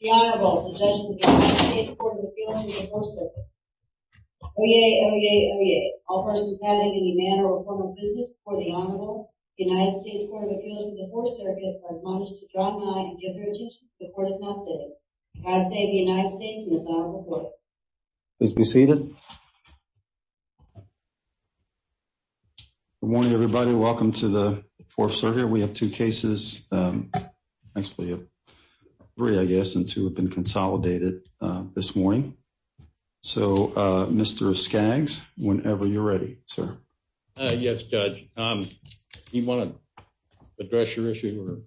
The Honorable, the Judge of the United States Court of Appeals for the Fourth Circuit Oyez, oyez, oyez. All persons having any manner or form of business before the Honorable, the United States Court of Appeals for the Fourth Circuit are admonished to draw nigh and give their attention to the court of law sitting. God save the United States and His Honorable Court. Please be seated. Good morning, everybody. Welcome to the Fourth Circuit. We have two cases, actually three, I guess, and two have been consolidated this morning. So, Mr. Skaggs, whenever you're ready, sir. Yes, Judge. Do you want to address your issue?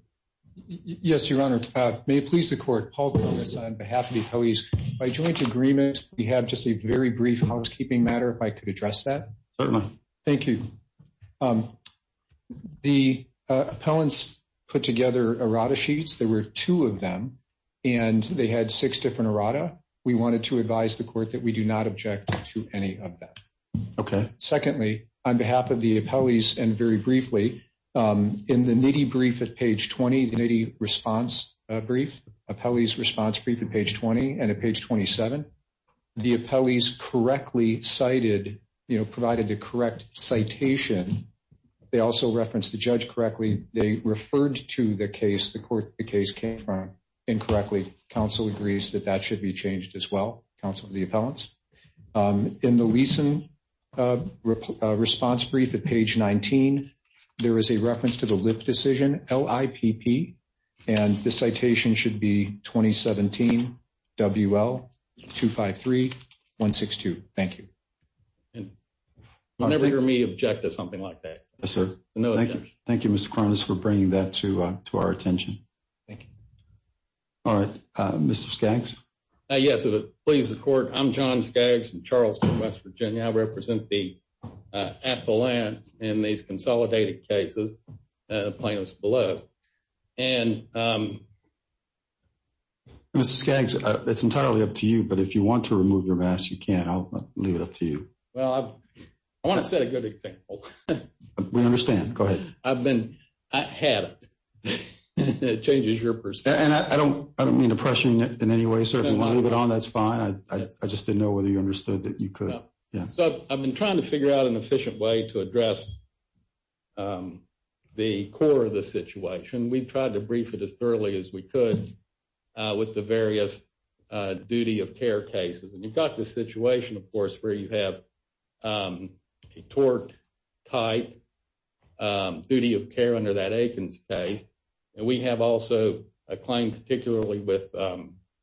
Yes, Your Honor. May it please the court, Paul Griffiths, on behalf of the appellees, by joint agreement, we have just a very brief housekeeping matter, if I could address that. Certainly. Thank you. The appellants put together errata sheets. There were two of them, and they had six different errata. We wanted to advise the court that we do not object to any of that. Okay. Secondly, on behalf of the appellees, and very briefly, in the nitty brief at page 20, the nitty response brief, appellees' response brief at page 20 and at page 27, the appellees correctly cited, provided the correct citation. They also referenced the judge correctly. They referred to the case, the court the case came from, incorrectly. Counsel agrees that that should be changed as well, counsel of the appellants. In the Leeson response brief at page 19, there is a reference to the Lipp decision, L-I-P-P, and the citation should be 2017 WL 253 162. Thank you. You'll never hear me object to something like that. Yes, sir. Thank you, Mr. Kronos, for bringing that to our attention. Thank you. All right. Mr. Skaggs? Yes, if it pleases the court, I'm John Skaggs from Charleston, West Virginia. I represent the appellants in these consolidated cases, plaintiffs below. And... Mr. Skaggs, it's entirely up to you, but if you want to remove your mask, you can. I'll leave it up to you. Well, I want to set a good example. We understand. Go ahead. I've been, I haven't. It changes your perspective. And I don't mean to pressure you in any way, sir. If you want to leave it on, that's fine. I just didn't know whether you understood that you could. I've been trying to figure out an efficient way to address the core of the situation. We've tried to brief it as thoroughly as we could with the various duty of care cases. And you've got the situation, of course, where you have a tort type duty of care under that Aikens case. And we have also a claim, particularly with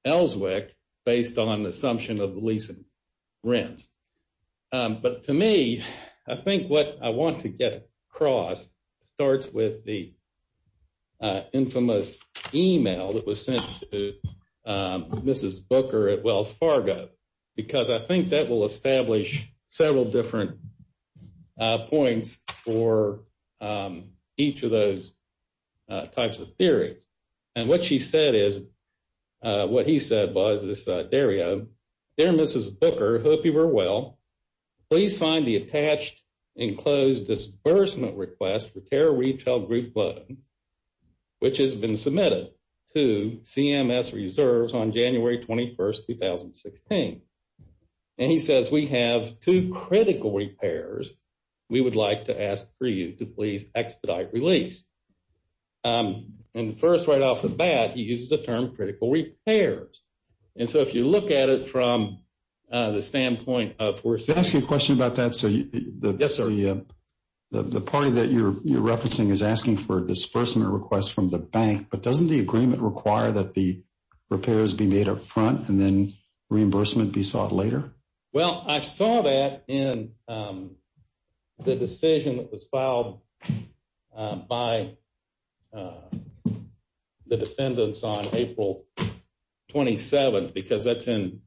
Ellswick, based on the assumption of the lease and rent. But to me, I think what I want to get across starts with the infamous email that was sent to Mrs. Booker at Wells Fargo. Because I think that will establish several different points for each of those types of theories. And what she said is what he said was this area there, Mrs. Booker. Hope you were well. Please find the attached enclosed disbursement request for care retail group. Which has been submitted to CMS reserves on January 21st, 2016. And he says, we have two critical repairs. We would like to ask for you to please expedite release. And first, right off the bat, he uses the term critical repairs. And so if you look at it from the standpoint of... Can I ask you a question about that? Yes, sir. The party that you're referencing is asking for a disbursement request from the bank. But doesn't the agreement require that the repairs be made up front and then reimbursement be sought later? Well, I saw that in the decision that was filed by the defendants on April 27th. Because that's in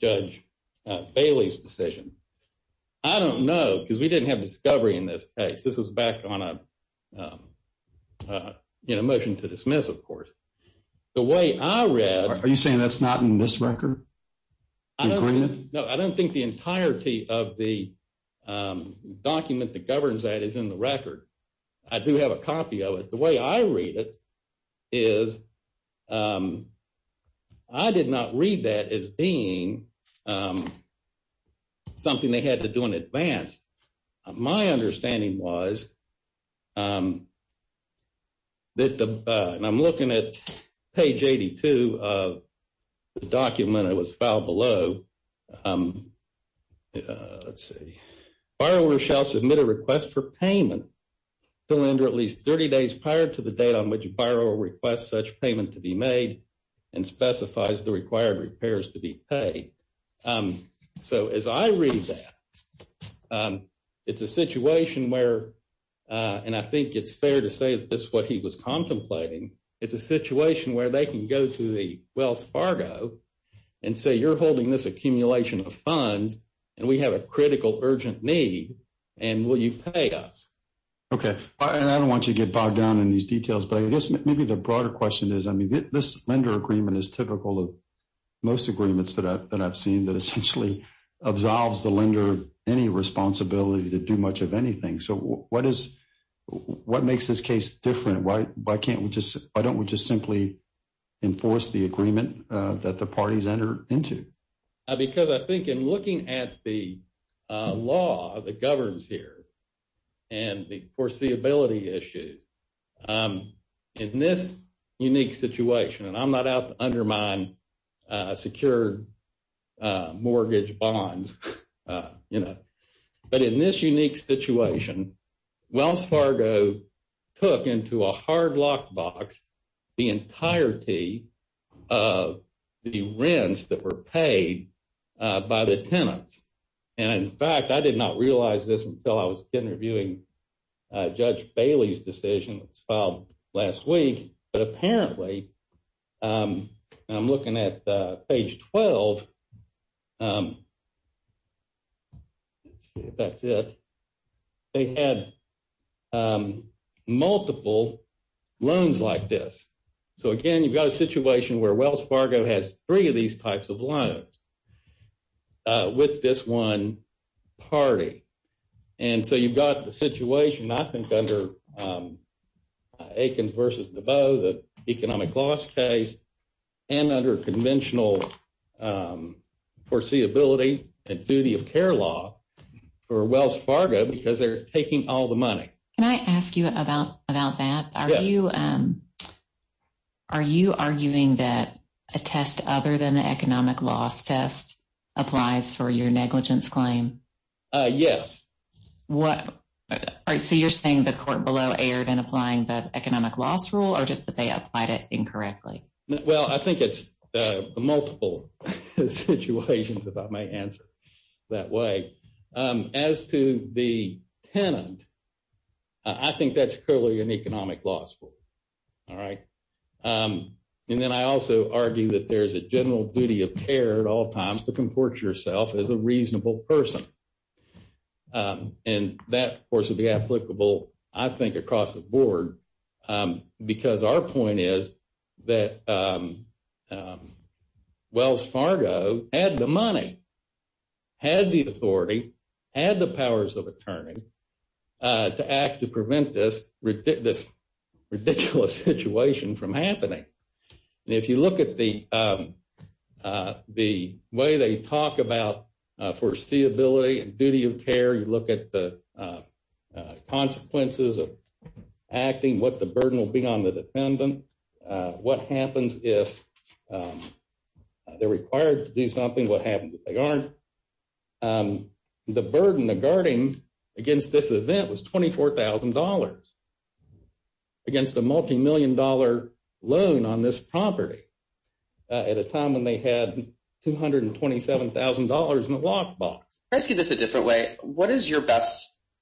Judge Bailey's decision. I don't know because we didn't have discovery in this case. This is back on a motion to dismiss, of course. The way I read... Are you saying that's not in this record? No, I don't think the entirety of the document that governs that is in the record. I do have a copy of it. The way I read it is... I did not read that as being something they had to do in advance. My understanding was... And I'm looking at page 82 of the document that was filed below. Let's see. The borrower shall submit a request for payment to lender at least 30 days prior to the date on which the borrower requests such payment to be made and specifies the required repairs to be paid. So as I read that, it's a situation where... And I think it's fair to say that's what he was contemplating. It's a situation where they can go to the Wells Fargo and say, You're holding this accumulation of funds and we have a critical urgent need and will you pay us? Okay. And I don't want you to get bogged down in these details. But I guess maybe the broader question is, I mean, this lender agreement is typical of most agreements that I've seen that essentially absolves the lender any responsibility to do much of anything. So what is... What makes this case different? Why can't we just... Why don't we just simply enforce the agreement that the parties enter into? Because I think in looking at the law that governs here and the foreseeability issues, in this unique situation, and I'm not out to undermine secure mortgage bonds, you know, but in this unique situation, Wells Fargo took into a hard lockbox the entirety of the rents that were paid by the tenants. And in fact, I did not realize this until I was interviewing Judge Bailey's decision filed last week. But apparently, I'm looking at page 12. Let's see if that's it. They had multiple loans like this. So again, you've got a situation where Wells Fargo has three of these types of loans with this one party. And so you've got the situation, I think, under Aikens v. DeVoe, the economic loss case, and under conventional foreseeability and duty of care law for Wells Fargo because they're taking all the money. Can I ask you about that? Yes. Are you arguing that a test other than the economic loss test applies for your negligence claim? Yes. So you're saying the court below erred in applying the economic loss rule or just that they applied it incorrectly? Well, I think it's multiple situations, if I may answer that way. As to the tenant, I think that's clearly an economic loss rule. All right. And then I also argue that there's a general duty of care at all times to comport yourself as a reasonable person. And that, of course, would be applicable, I think, across the board because our point is that Wells Fargo had the money, had the authority, had the powers of attorney to act to prevent this ridiculous situation from happening. And if you look at the way they talk about foreseeability and duty of care, you look at the consequences of acting, what the burden will be on the defendant, what happens if they're required to do something, what happens if they aren't. The burden of guarding against this event was $24,000 against a multimillion dollar loan on this property at a time when they had $227,000 in the lockbox. Can I ask you this a different way?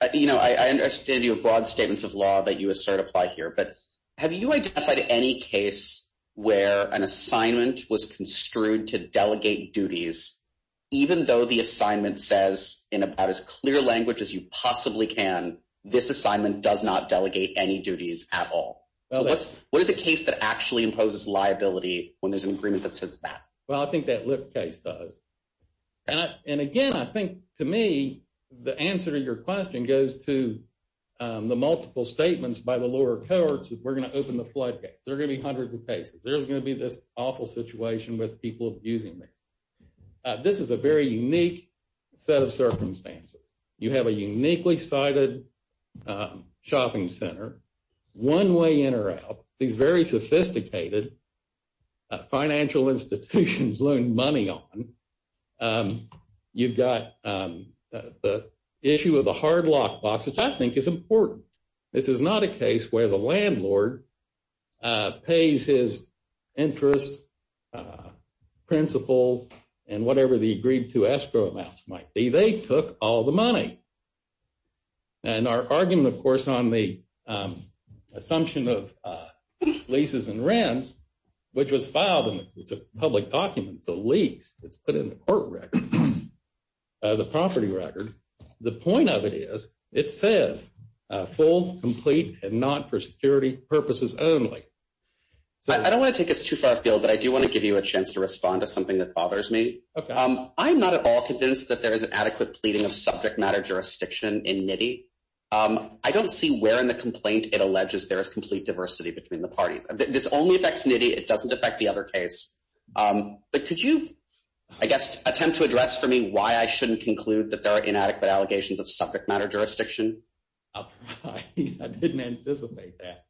I understand your broad statements of law that you assert apply here, but have you identified any case where an assignment was construed to delegate duties, even though the assignment says in about as clear language as you possibly can, this assignment does not delegate any duties at all? What is the case that actually imposes liability when there's an agreement that says that? Well, I think that Lyft case does. And again, I think to me, the answer to your question goes to the multiple statements by the lower courts that we're going to open the floodgates. There are going to be hundreds of cases. There's going to be this awful situation with people abusing this. This is a very unique set of circumstances. You have a uniquely cited shopping center, one way in or out, these very sophisticated financial institutions loaning money on. You've got the issue of the hard lockbox, which I think is important. This is not a case where the landlord pays his interest, principal, and whatever the agreed to escrow amounts might be. They took all the money. And our argument, of course, on the assumption of leases and rents, which was filed, and it's a public document, it's a lease. It's put in the court record, the property record. The point of it is it says full, complete, and not for security purposes only. I don't want to take us too far afield, but I do want to give you a chance to respond to something that bothers me. I'm not at all convinced that there is an adequate pleading of subject matter jurisdiction in NITI. I don't see where in the complaint it alleges there is complete diversity between the parties. This only affects NITI. It doesn't affect the other case. But could you, I guess, attempt to address for me why I shouldn't conclude that there are inadequate allegations of subject matter jurisdiction? I didn't anticipate that.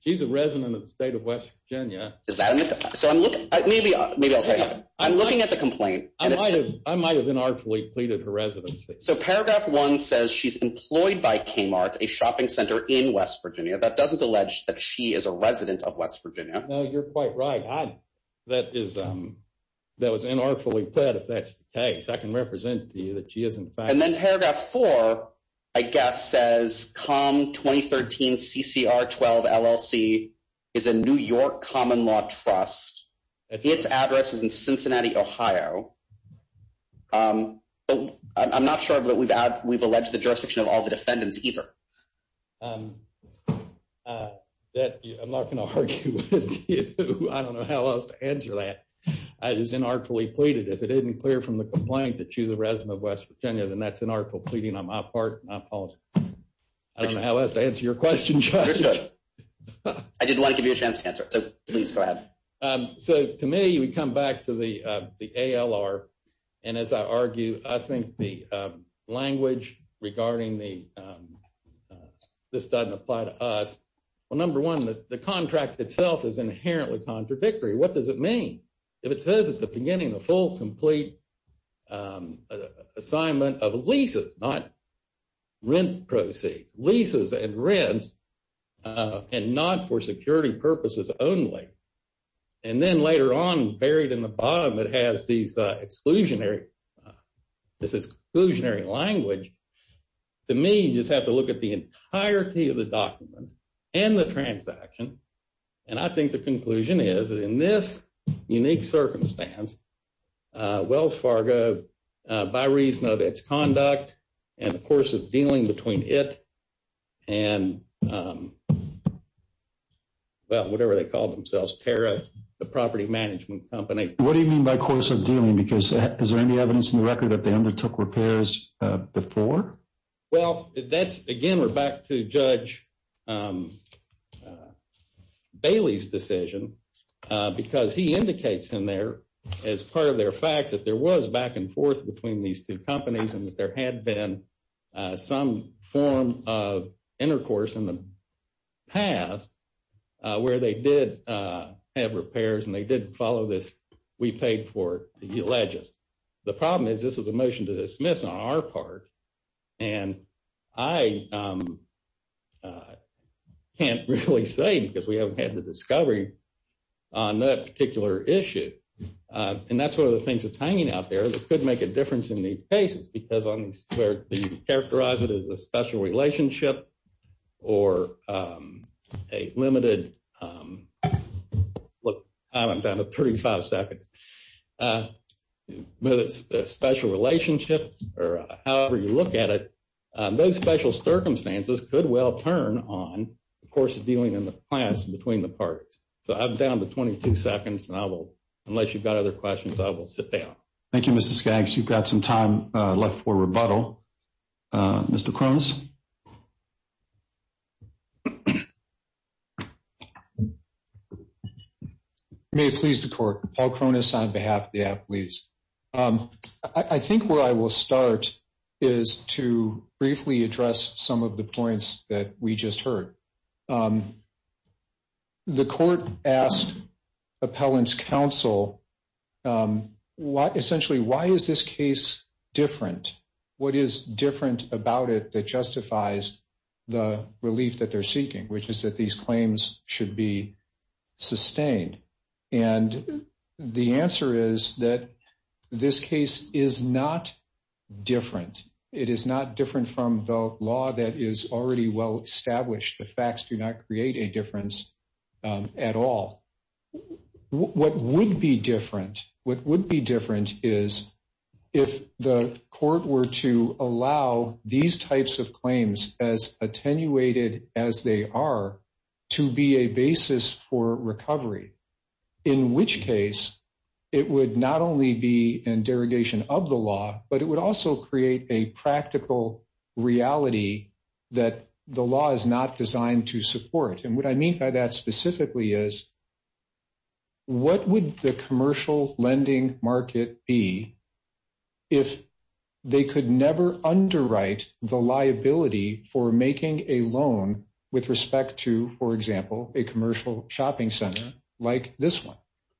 She's a resident of the state of West Virginia. Maybe I'll tell you. I'm looking at the complaint. I might have inartfully pleaded her residency. So paragraph one says she's employed by Kmart, a shopping center in West Virginia. That doesn't allege that she is a resident of West Virginia. No, you're quite right. That was inartfully pled if that's the case. I can represent to you that she is, in fact. And then paragraph four, I guess, says COM 2013 CCR 12 LLC is a New York common law trust. Its address is in Cincinnati, Ohio. I'm not sure that we've alleged the jurisdiction of all the defendants either. I'm not going to argue with you. I don't know how else to answer that. It is inartfully pleaded. If it isn't clear from the complaint that she's a resident of West Virginia, then that's inartful pleading on my part. And I apologize. I don't know how else to answer your question, Judge. Understood. I didn't want to give you a chance to answer it, so please go ahead. So to me, we come back to the ALR. And as I argue, I think the language regarding this doesn't apply to us. Well, number one, the contract itself is inherently contradictory. What does it mean? If it says at the beginning, a full, complete assignment of leases, not rent proceeds. Leases and rents and not for security purposes only. And then later on, buried in the bottom, it has this exclusionary language. To me, you just have to look at the entirety of the document and the transaction. And I think the conclusion is, in this unique circumstance, Wells Fargo, by reason of its conduct and the course of dealing between it and, well, whatever they call themselves, Pera, the property management company. What do you mean by course of dealing? Because is there any evidence in the record that they undertook repairs before? Well, that's, again, we're back to Judge Bailey's decision. Because he indicates in there, as part of their facts, that there was back and forth between these two companies. And that there had been some form of intercourse in the past where they did have repairs and they did follow this. We paid for it. The problem is this is a motion to dismiss on our part. And I can't really say because we haven't had the discovery on that particular issue. And that's one of the things that's hanging out there that could make a difference in these cases. Because where you characterize it as a special relationship or a limited, look, I'm down to 35 seconds. Whether it's a special relationship or however you look at it, those special circumstances could well turn on the course of dealing in the past between the parties. So I'm down to 22 seconds and I will, unless you've got other questions, I will sit down. Thank you, Mr. Skaggs. You've got some time left for rebuttal. Mr. Cronus? May it please the Court. Paul Cronus on behalf of the Appalachians. I think where I will start is to briefly address some of the points that we just heard. The court asked appellant's counsel, essentially, why is this case different? What is different about it that justifies the relief that they're seeking, which is that these claims should be sustained? And the answer is that this case is not different. It is not different from the law that is already well established. The facts do not create a difference at all. What would be different? What would be different is if the court were to allow these types of claims, as attenuated as they are, to be a basis for recovery. In which case, it would not only be a derogation of the law, but it would also create a practical reality that the law is not designed to support. And what I mean by that specifically is, what would the commercial lending market be if they could never underwrite the liability for making a loan with respect to, for example, a commercial shopping center like this one?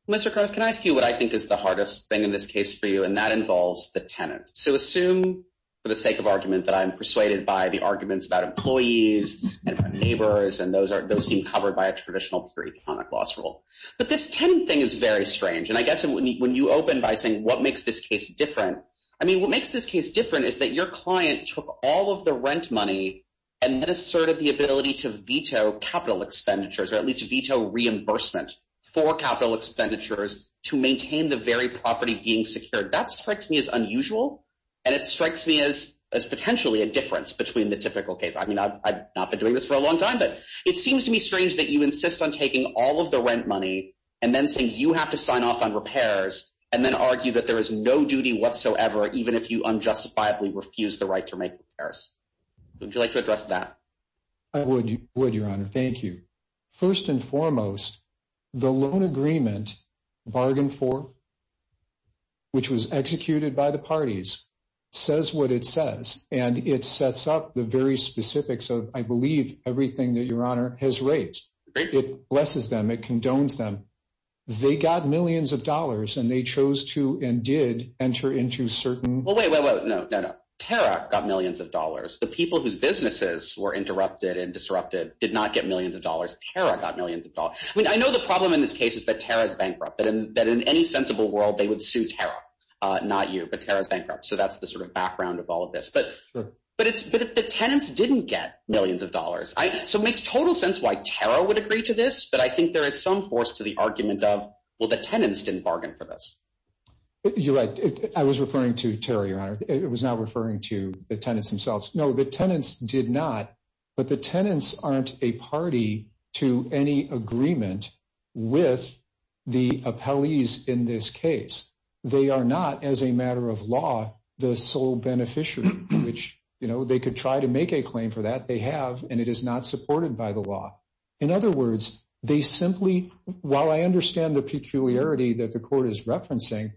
Mr. Cronus, can I ask you what I think is the hardest thing in this case for you? And that involves the tenant. So assume, for the sake of argument, that I'm persuaded by the arguments about employees and neighbors. And those seem covered by a traditional pre-economic loss rule. But this tenant thing is very strange. And I guess when you open by saying, what makes this case different? I mean, what makes this case different is that your client took all of the rent money and then asserted the ability to veto capital expenditures. Or at least veto reimbursement for capital expenditures to maintain the very property being secured. That strikes me as unusual. And it strikes me as potentially a difference between the typical case. I mean, I've not been doing this for a long time. But it seems to me strange that you insist on taking all of the rent money and then saying you have to sign off on repairs and then argue that there is no duty whatsoever, even if you unjustifiably refuse the right to make repairs. Would you like to address that? I would, Your Honor. Thank you. First and foremost, the loan agreement bargain for, which was executed by the parties, says what it says. And it sets up the very specifics of, I believe, everything that Your Honor has raised. It blesses them. It condones them. They got millions of dollars. And they chose to and did enter into certain— Well, wait, wait, wait. No, no, no. Tara got millions of dollars. The people whose businesses were interrupted and disrupted did not get millions of dollars. Tara got millions of dollars. I mean, I know the problem in this case is that Tara is bankrupt, that in any sensible world they would sue Tara, not you. But Tara is bankrupt. So that's the sort of background of all of this. But the tenants didn't get millions of dollars. So it makes total sense why Tara would agree to this. But I think there is some force to the argument of, well, the tenants didn't bargain for this. You're right. I was referring to Tara, Your Honor. It was not referring to the tenants themselves. No, the tenants did not. But the tenants aren't a party to any agreement with the appellees in this case. They are not, as a matter of law, the sole beneficiary, which, you know, they could try to make a claim for that. They have, and it is not supported by the law. In other words, they simply, while I understand the peculiarity that the court is referencing,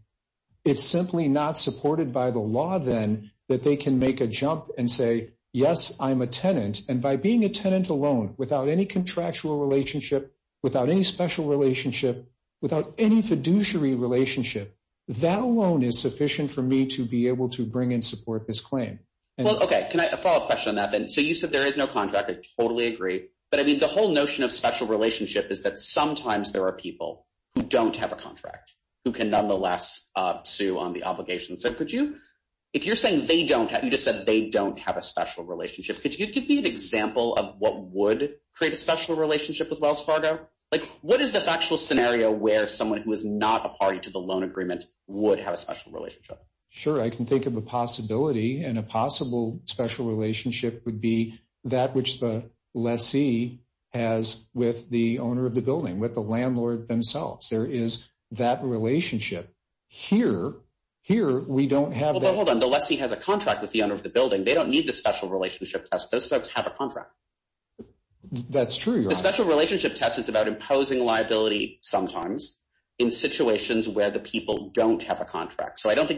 it's simply not supported by the law then that they can make a jump and say, yes, I'm a tenant. And by being a tenant alone, without any contractual relationship, without any special relationship, without any fiduciary relationship, that alone is sufficient for me to be able to bring in support this claim. Well, okay. Can I follow up a question on that then? So you said there is no contract. I totally agree. But, I mean, the whole notion of special relationship is that sometimes there are people who don't have a contract who can nonetheless sue on the obligation. So could you, if you're saying they don't have, you just said they don't have a special relationship, could you give me an example of what would create a special relationship with Wells Fargo? Like, what is the factual scenario where someone who is not a party to the loan agreement would have a special relationship? Sure. I can think of a possibility, and a possible special relationship would be that which the lessee has with the owner of the building, with the landlord themselves. There is that relationship. Here, we don't have that. Hold on. The lessee has a contract with the owner of the building. They don't need the special relationship test. Those folks have a contract. That's true. So I don't think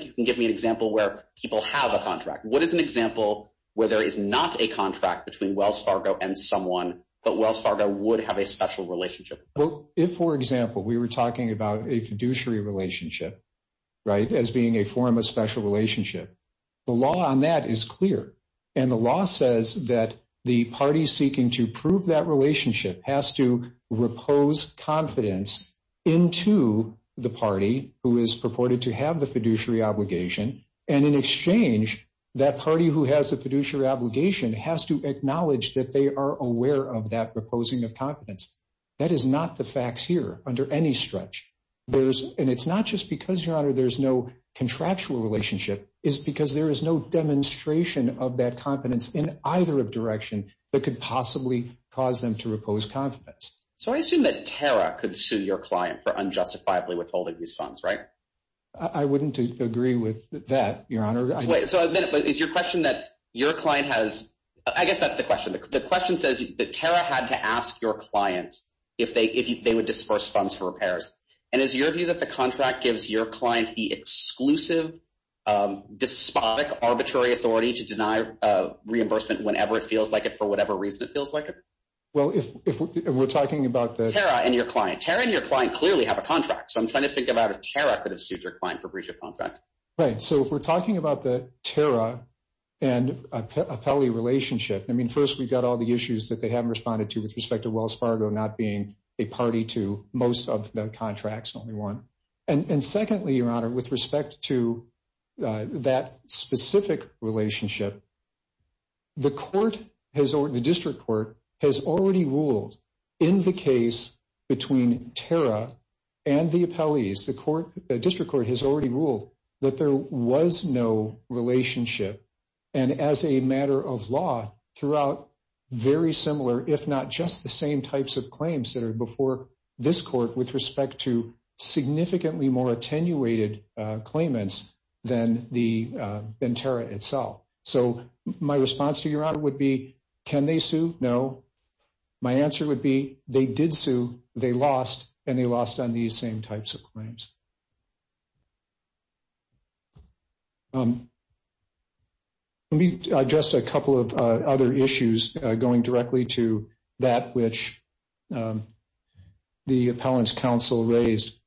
you can give me an example where people have a contract. What is an example where there is not a contract between Wells Fargo and someone, but Wells Fargo would have a special relationship? Well, if, for example, we were talking about a fiduciary relationship, right, as being a form of special relationship, the law on that is clear. And the law says that the party seeking to prove that relationship has to repose confidence into the party who is purported to have the fiduciary obligation. And in exchange, that party who has a fiduciary obligation has to acknowledge that they are aware of that reposing of confidence. That is not the facts here under any stretch. And it's not just because, Your Honor, there's no contractual relationship. It's because there is no demonstration of that confidence in either direction that could possibly cause them to repose confidence. So I assume that Tara could sue your client for unjustifiably withholding these funds, right? I wouldn't agree with that, Your Honor. So is your question that your client has – I guess that's the question. The question says that Tara had to ask your client if they would disperse funds for repairs. And is your view that the contract gives your client the exclusive, despotic, arbitrary authority to deny reimbursement whenever it feels like it, for whatever reason it feels like it? Well, if we're talking about the – Tara and your client. Tara and your client clearly have a contract. So I'm trying to think about if Tara could have sued your client for breach of contract. Right. So if we're talking about the Tara and appellee relationship, I mean, first, we've got all the issues that they haven't responded to with respect to Wells Fargo not being a party to most of the contracts, only one. And secondly, Your Honor, with respect to that specific relationship, the court has – the district court has already ruled in the case between Tara and the appellees, the court – the district court has already ruled that there was no relationship. And as a matter of law, throughout very similar, if not just the same types of claims that are before this court with respect to significantly more attenuated claimants than the – than Tara itself. So my response to Your Honor would be can they sue? No. My answer would be they did sue, they lost, and they lost on these same types of claims. Let me address a couple of other issues going directly to that which the appellant's counsel raised.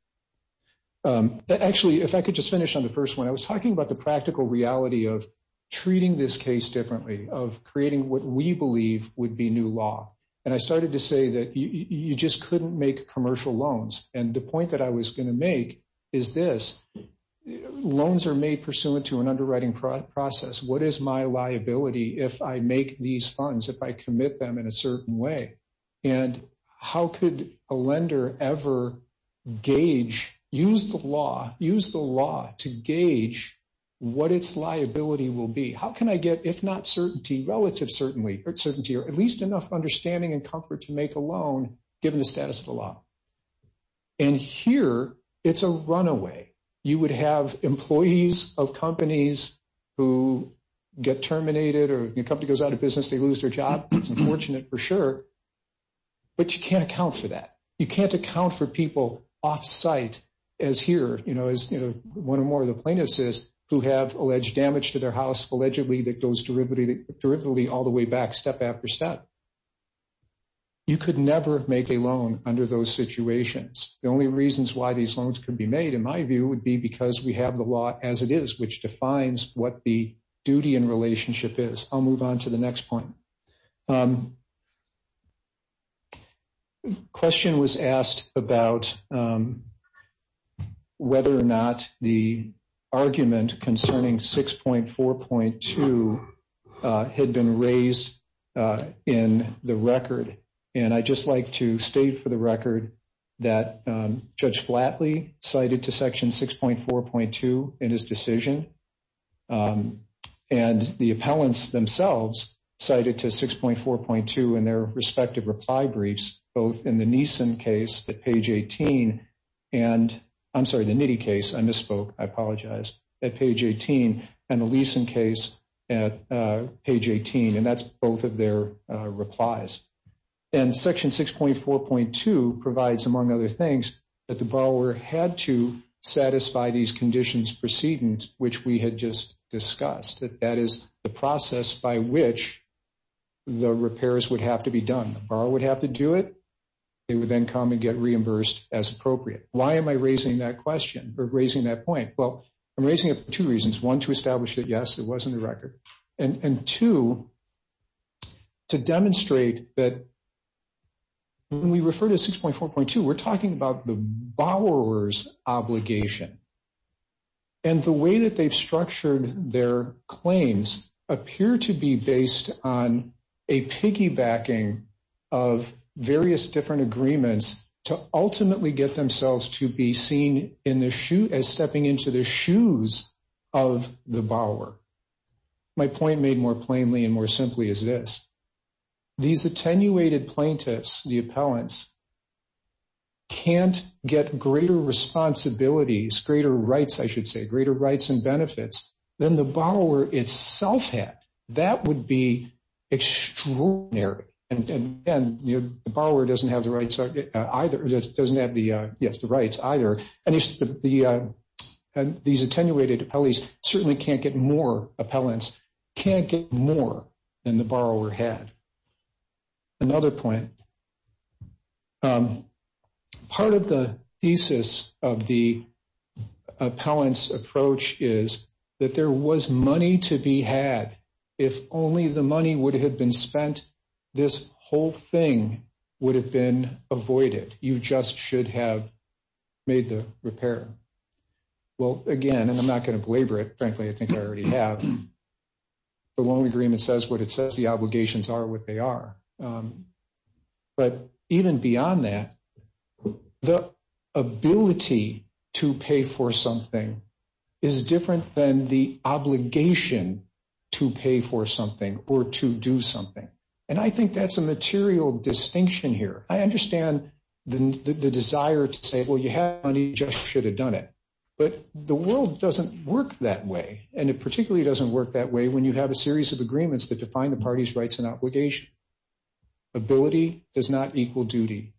Actually, if I could just finish on the first one, I was talking about the practical reality of treating this case differently, of creating what we believe would be new law. And I started to say that you just couldn't make commercial loans. And the point that I was going to make is this. Loans are made pursuant to an underwriting process. What is my liability if I make these funds, if I commit them in a certain way? And how could a lender ever gauge – use the law – use the law to gauge what its liability will be? How can I get, if not certainty, relative certainty, or at least enough understanding and comfort to make a loan given the status of the law? And here, it's a runaway. You would have employees of companies who get terminated or your company goes out of business, they lose their job, it's unfortunate for sure, but you can't account for that. You can't account for people off-site as here, as one or more of the plaintiffs is, who have alleged damage to their house, allegedly that goes derivatively all the way back step after step. You could never make a loan under those situations. The only reasons why these loans could be made, in my view, would be because we have the law as it is, which defines what the duty and relationship is. I'll move on to the next point. The question was asked about whether or not the argument concerning 6.4.2 had been raised in the record, and I'd just like to state for the record that Judge Flatley cited to Section 6.4.2 in his decision, and the appellants themselves cited to 6.4.2 in their respective reply briefs, both in the Neeson case at page 18, and I'm sorry, the Nitti case, I misspoke, I apologize, at page 18, and the Leeson case at page 18, and that's both of their replies. And Section 6.4.2 provides, among other things, that the borrower had to satisfy these conditions proceedings, which we had just discussed, that that is the process by which the repairs would have to be done. The borrower would have to do it. They would then come and get reimbursed as appropriate. Why am I raising that question or raising that point? Well, I'm raising it for two reasons. One, to establish that, yes, it was in the record. And two, to demonstrate that when we refer to 6.4.2, we're talking about the borrower's obligation, and the way that they've structured their claims appear to be based on a piggybacking of various different agreements to ultimately get themselves to be seen as stepping into the shoes of the borrower. My point made more plainly and more simply is this. These attenuated plaintiffs, the appellants, can't get greater responsibilities, greater rights, I should say, greater rights and benefits than the borrower itself had. That would be extraordinary. And the borrower doesn't have the rights either. And these attenuated appellees certainly can't get more appellants, can't get more than the borrower had. Another point. Part of the thesis of the appellant's approach is that there was money to be had. If only the money would have been spent, this whole thing would have been avoided. You just should have made the repair. Well, again, and I'm not going to belabor it. Frankly, I think I already have. The loan agreement says what it says. The obligations are what they are. But even beyond that, the ability to pay for something is different than the obligation to pay for something or to do something. And I think that's a material distinction here. I understand the desire to say, well, you have money, you just should have done it. But the world doesn't work that way, and it particularly doesn't work that way when you have a series of agreements that define the party's rights and obligation. Ability does not equal duty.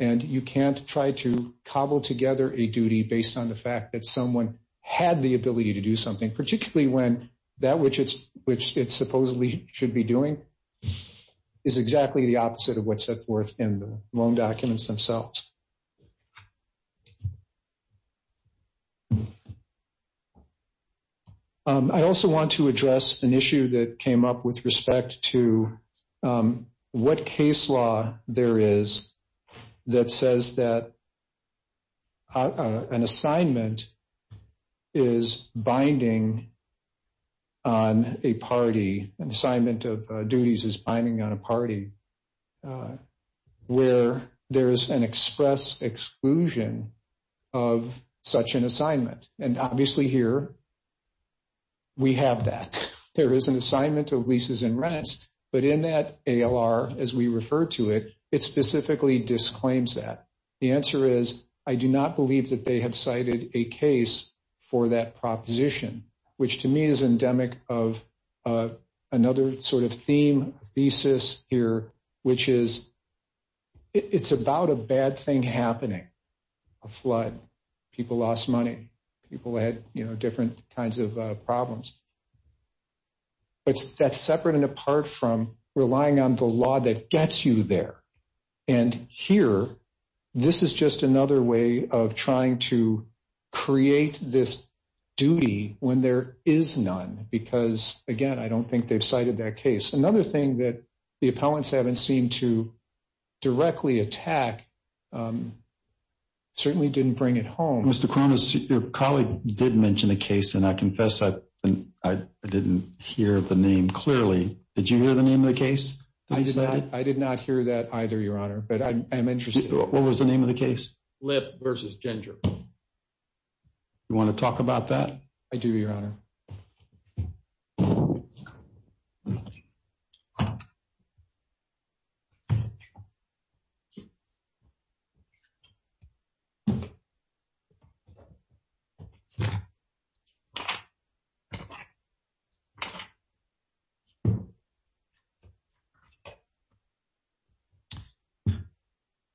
And you can't try to cobble together a duty based on the fact that someone had the ability to do something, particularly when that which it supposedly should be doing is exactly the opposite of what's set forth in the loan documents themselves. I also want to address an issue that came up with respect to what case law there is that says that an assignment is binding on a party. An assignment of duties is binding on a party where there is an express exclusion of such an assignment. And obviously here we have that. There is an assignment of leases and rents, but in that ALR, as we refer to it, it specifically disclaims that. The answer is I do not believe that they have cited a case for that proposition, which to me is endemic of another sort of theme, thesis here, which is it's about a bad thing happening. A flood. People lost money. People had, you know, different kinds of problems. But that's separate and apart from relying on the law that gets you there. And here this is just another way of trying to create this duty when there is none. Because, again, I don't think they've cited that case. Another thing that the appellants haven't seemed to directly attack certainly didn't bring it home. Your colleague did mention a case, and I confess I didn't hear the name clearly. Did you hear the name of the case? I did not hear that either, Your Honor. But I'm interested. What was the name of the case? Lip versus ginger. You want to talk about that? I do, Your Honor.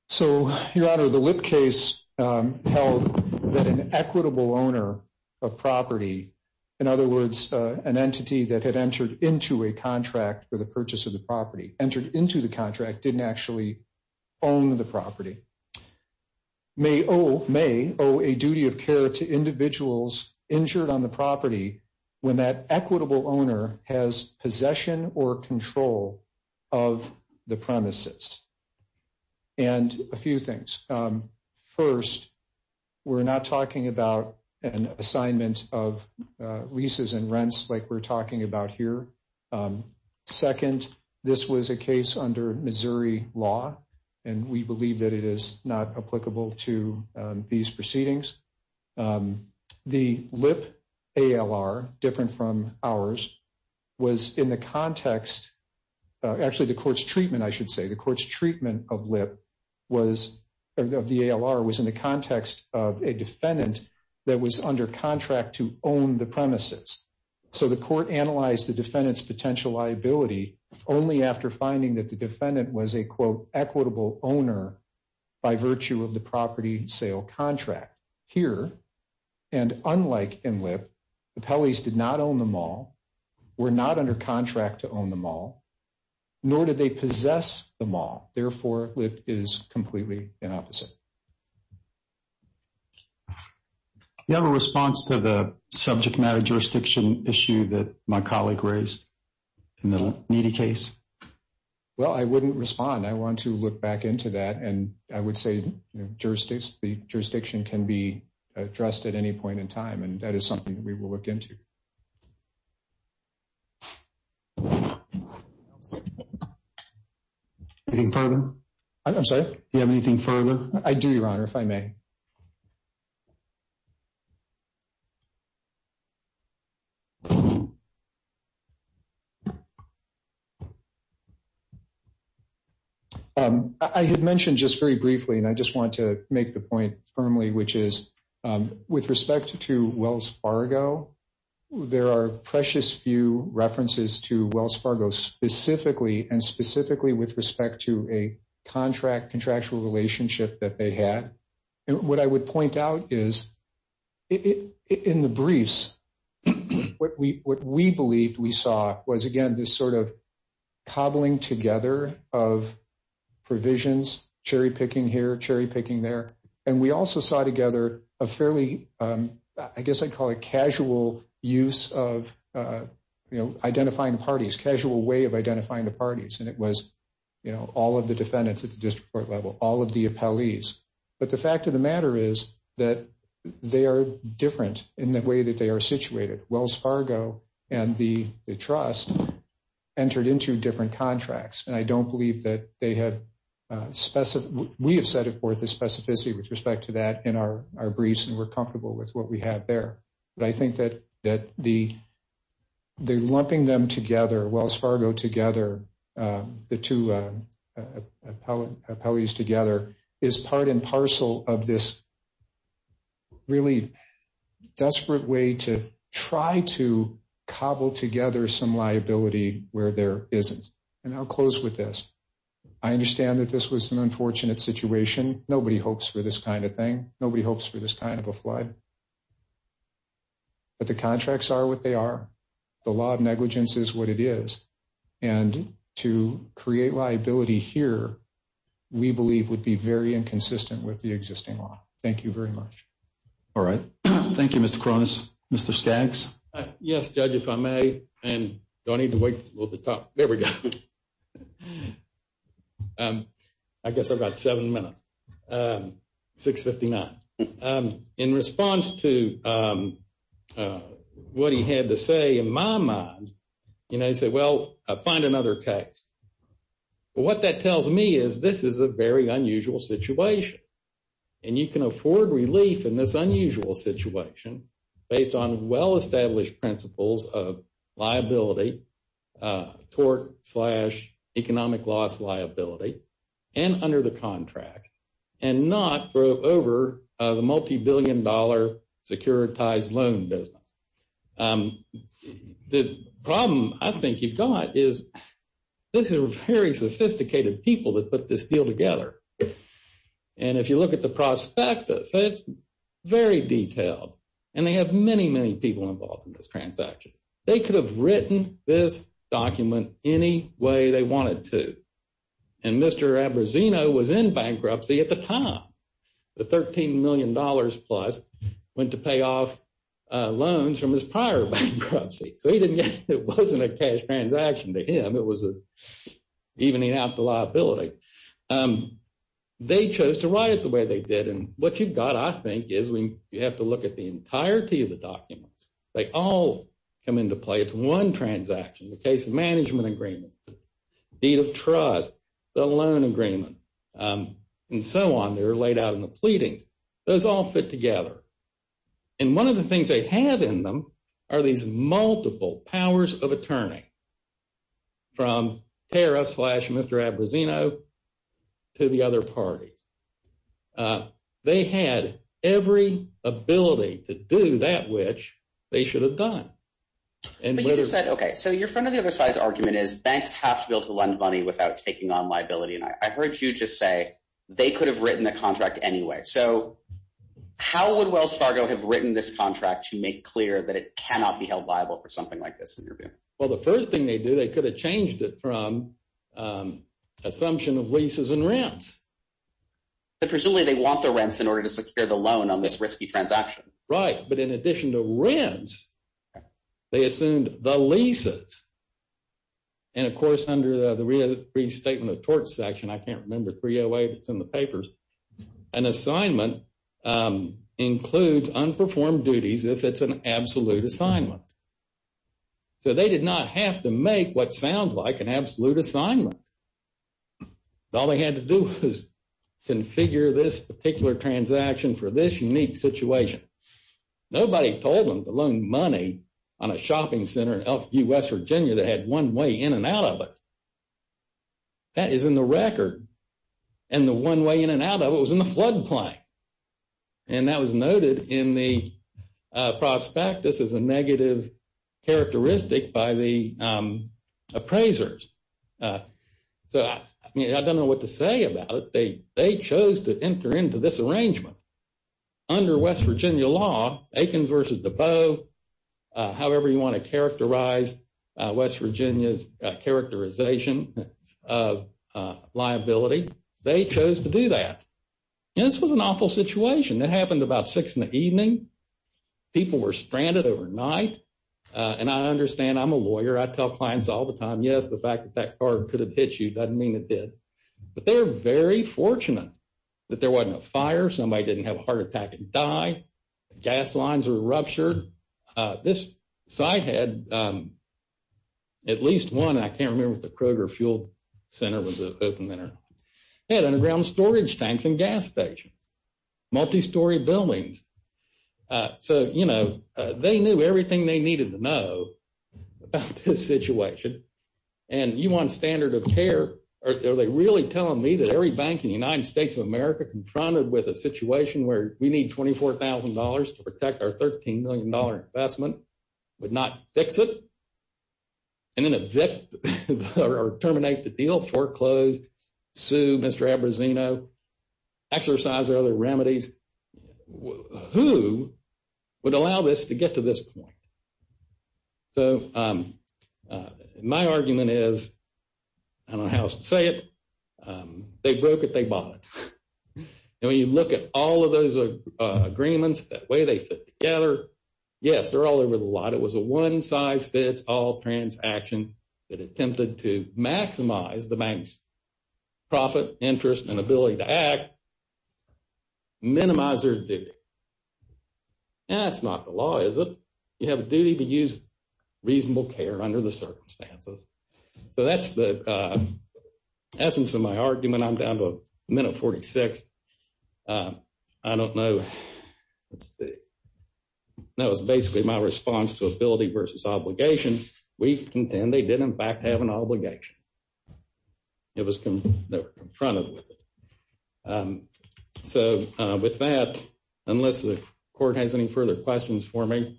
So, Your Honor, the Lip case held that an equitable owner of property, in other words, an entity that had entered into a contract for the purchase of the property, entered into the contract, didn't actually own the property, may owe, may owe a due process. So, it's a duty of care to individuals injured on the property when that equitable owner has possession or control of the premises. And a few things. First, we're not talking about an assignment of leases and rents like we're talking about here. Second, this was a case under Missouri law, and we believe that it is not applicable to these proceedings. The Lip ALR, different from ours, was in the context, actually the court's treatment, I should say, the court's treatment of Lip was, of the ALR, was in the context of a defendant that was under contract to own the premises. So, the court analyzed the defendant's potential liability only after finding that the defendant was a, quote, equitable owner by virtue of the property sale contract. Here, and unlike in Lip, the Pelleys did not own the mall, were not under contract to own the mall, nor did they possess the mall. Therefore, Lip is completely the opposite. Do you have a response to the subject matter jurisdiction issue that my colleague raised in the needy case? Well, I wouldn't respond. I want to look back into that, and I would say the jurisdiction can be addressed at any point in time, and that is something that we will look into. Anything further? I'm sorry? Do you have anything further? I do, Your Honor, if I may. I had mentioned just very briefly, and I just want to make the point firmly, which is, with respect to Wells Fargo, there are precious few references to Wells Fargo specifically, and specifically with respect to a contract, contractual relationship that they had. What I would point out is, in the briefs, what we believed we saw was, again, this sort of cobbling together of provisions, cherry-picking here, cherry-picking there. And we also saw together a fairly, I guess I'd call it casual use of identifying the parties, casual way of identifying the parties. And it was, you know, all of the defendants at the district court level, all of the appellees. But the fact of the matter is that they are different in the way that they are situated. Wells Fargo and the trust entered into different contracts, and I don't believe that they had – we have set forth the specificity with respect to that in our briefs, and we're comfortable with what we have there. But I think that the lumping them together, Wells Fargo together, the two appellees together, is part and parcel of this really desperate way to try to cobble together some liability where there isn't. And I'll close with this. I understand that this was an unfortunate situation. Nobody hopes for this kind of thing. Nobody hopes for this kind of a flood. But the contracts are what they are. The law of negligence is what it is. And to create liability here, we believe, would be very inconsistent with the existing law. Thank you very much. All right. Thank you, Mr. Cronus. Mr. Skaggs? Yes, Judge, if I may. I don't need to wait for the top. There we go. I guess I've got seven minutes. 6.59. In response to what he had to say in my mind, you know, he said, well, find another case. What that tells me is this is a very unusual situation. And you can afford relief in this unusual situation based on well-established principles of liability, tort slash economic loss liability, and under the contract, and not throw over the multibillion dollar securitized loan business. The problem I think you've got is this is a very sophisticated people that put this deal together. And if you look at the prospectus, it's very detailed. And they have many, many people involved in this transaction. They could have written this document any way they wanted to. And Mr. Abbruzzino was in bankruptcy at the time. The $13 million plus went to pay off loans from his prior bankruptcy. So it wasn't a cash transaction to him. It was an evening out the liability. They chose to write it the way they did. And what you've got, I think, is you have to look at the entirety of the documents. They all come into play. It's one transaction, the case management agreement, deed of trust, the loan agreement, and so on. They were laid out in the pleadings. Those all fit together. And one of the things they have in them are these multiple powers of attorney from Tara slash Mr. Abbruzzino to the other parties. They had every ability to do that which they should have done. Okay, so your front of the other side's argument is banks have to be able to lend money without taking on liability. And I heard you just say they could have written the contract anyway. So how would Wells Fargo have written this contract to make clear that it cannot be held liable for something like this? Well, the first thing they do, they could have changed it from assumption of leases and rents. Presumably they want the rents in order to secure the loan on this risky transaction. Right, but in addition to rents, they assumed the leases. And, of course, under the restatement of tort section, I can't remember 308, it's in the papers, an assignment includes unperformed duties if it's an absolute assignment. So they did not have to make what sounds like an absolute assignment. All they had to do was configure this particular transaction for this unique situation. Nobody told them to loan money on a shopping center in West Virginia that had one way in and out of it. That is in the record. And the one way in and out of it was in the floodplain. And that was noted in the prospectus as a negative characteristic by the appraisers. So, I mean, I don't know what to say about it. They chose to enter into this arrangement. Under West Virginia law, Aikens versus Debeau, however you want to characterize West Virginia's characterization of liability, they chose to do that. And this was an awful situation. It happened about 6 in the evening. People were stranded overnight. And I understand, I'm a lawyer, I tell clients all the time, yes, the fact that that car could have hit you doesn't mean it did. But they were very fortunate that there wasn't a fire. Somebody didn't have a heart attack and die. Gas lines were ruptured. This site had at least one, I can't remember if the Kroger Fuel Center was an open center, had underground storage tanks and gas stations, multi-story buildings. So, you know, they knew everything they needed to know about this situation. And you want standard of care, are they really telling me that every bank in the United States of America confronted with a situation where we need $24,000 to protect our $13 million investment, would not fix it, and then evict or terminate the deal, foreclose, sue Mr. Abbruzzino, exercise other remedies, who would allow this to get to this point? So my argument is, I don't know how else to say it, they broke it, they bought it. And when you look at all of those agreements, the way they fit together, yes, they're all over the lot. It was a one-size-fits-all transaction that attempted to maximize the bank's profit, interest, and ability to act, minimize their duty. That's not the law, is it? You have a duty to use reasonable care under the circumstances. So that's the essence of my argument. I'm down to a minute 46. I don't know. Let's see. That was basically my response to ability versus obligation. We contend they did, in fact, have an obligation. It was confronted with. So with that, unless the Court has any further questions for me,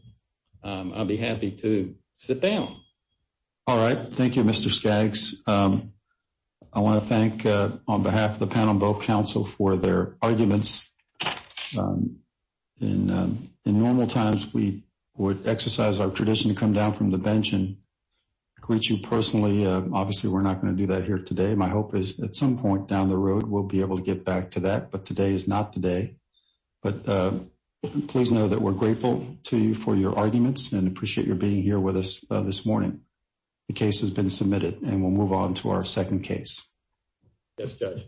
I'd be happy to sit down. All right. Thank you, Mr. Skaggs. I want to thank, on behalf of the panel and both counsel, for their arguments. In normal times, we would exercise our tradition to come down from the bench and greet you personally. Obviously, we're not going to do that here today. My hope is at some point down the road, we'll be able to get back to that, but today is not the day. But please know that we're grateful to you for your arguments and appreciate your being here with us this morning. The case has been submitted, and we'll move on to our second case. Yes, Judge.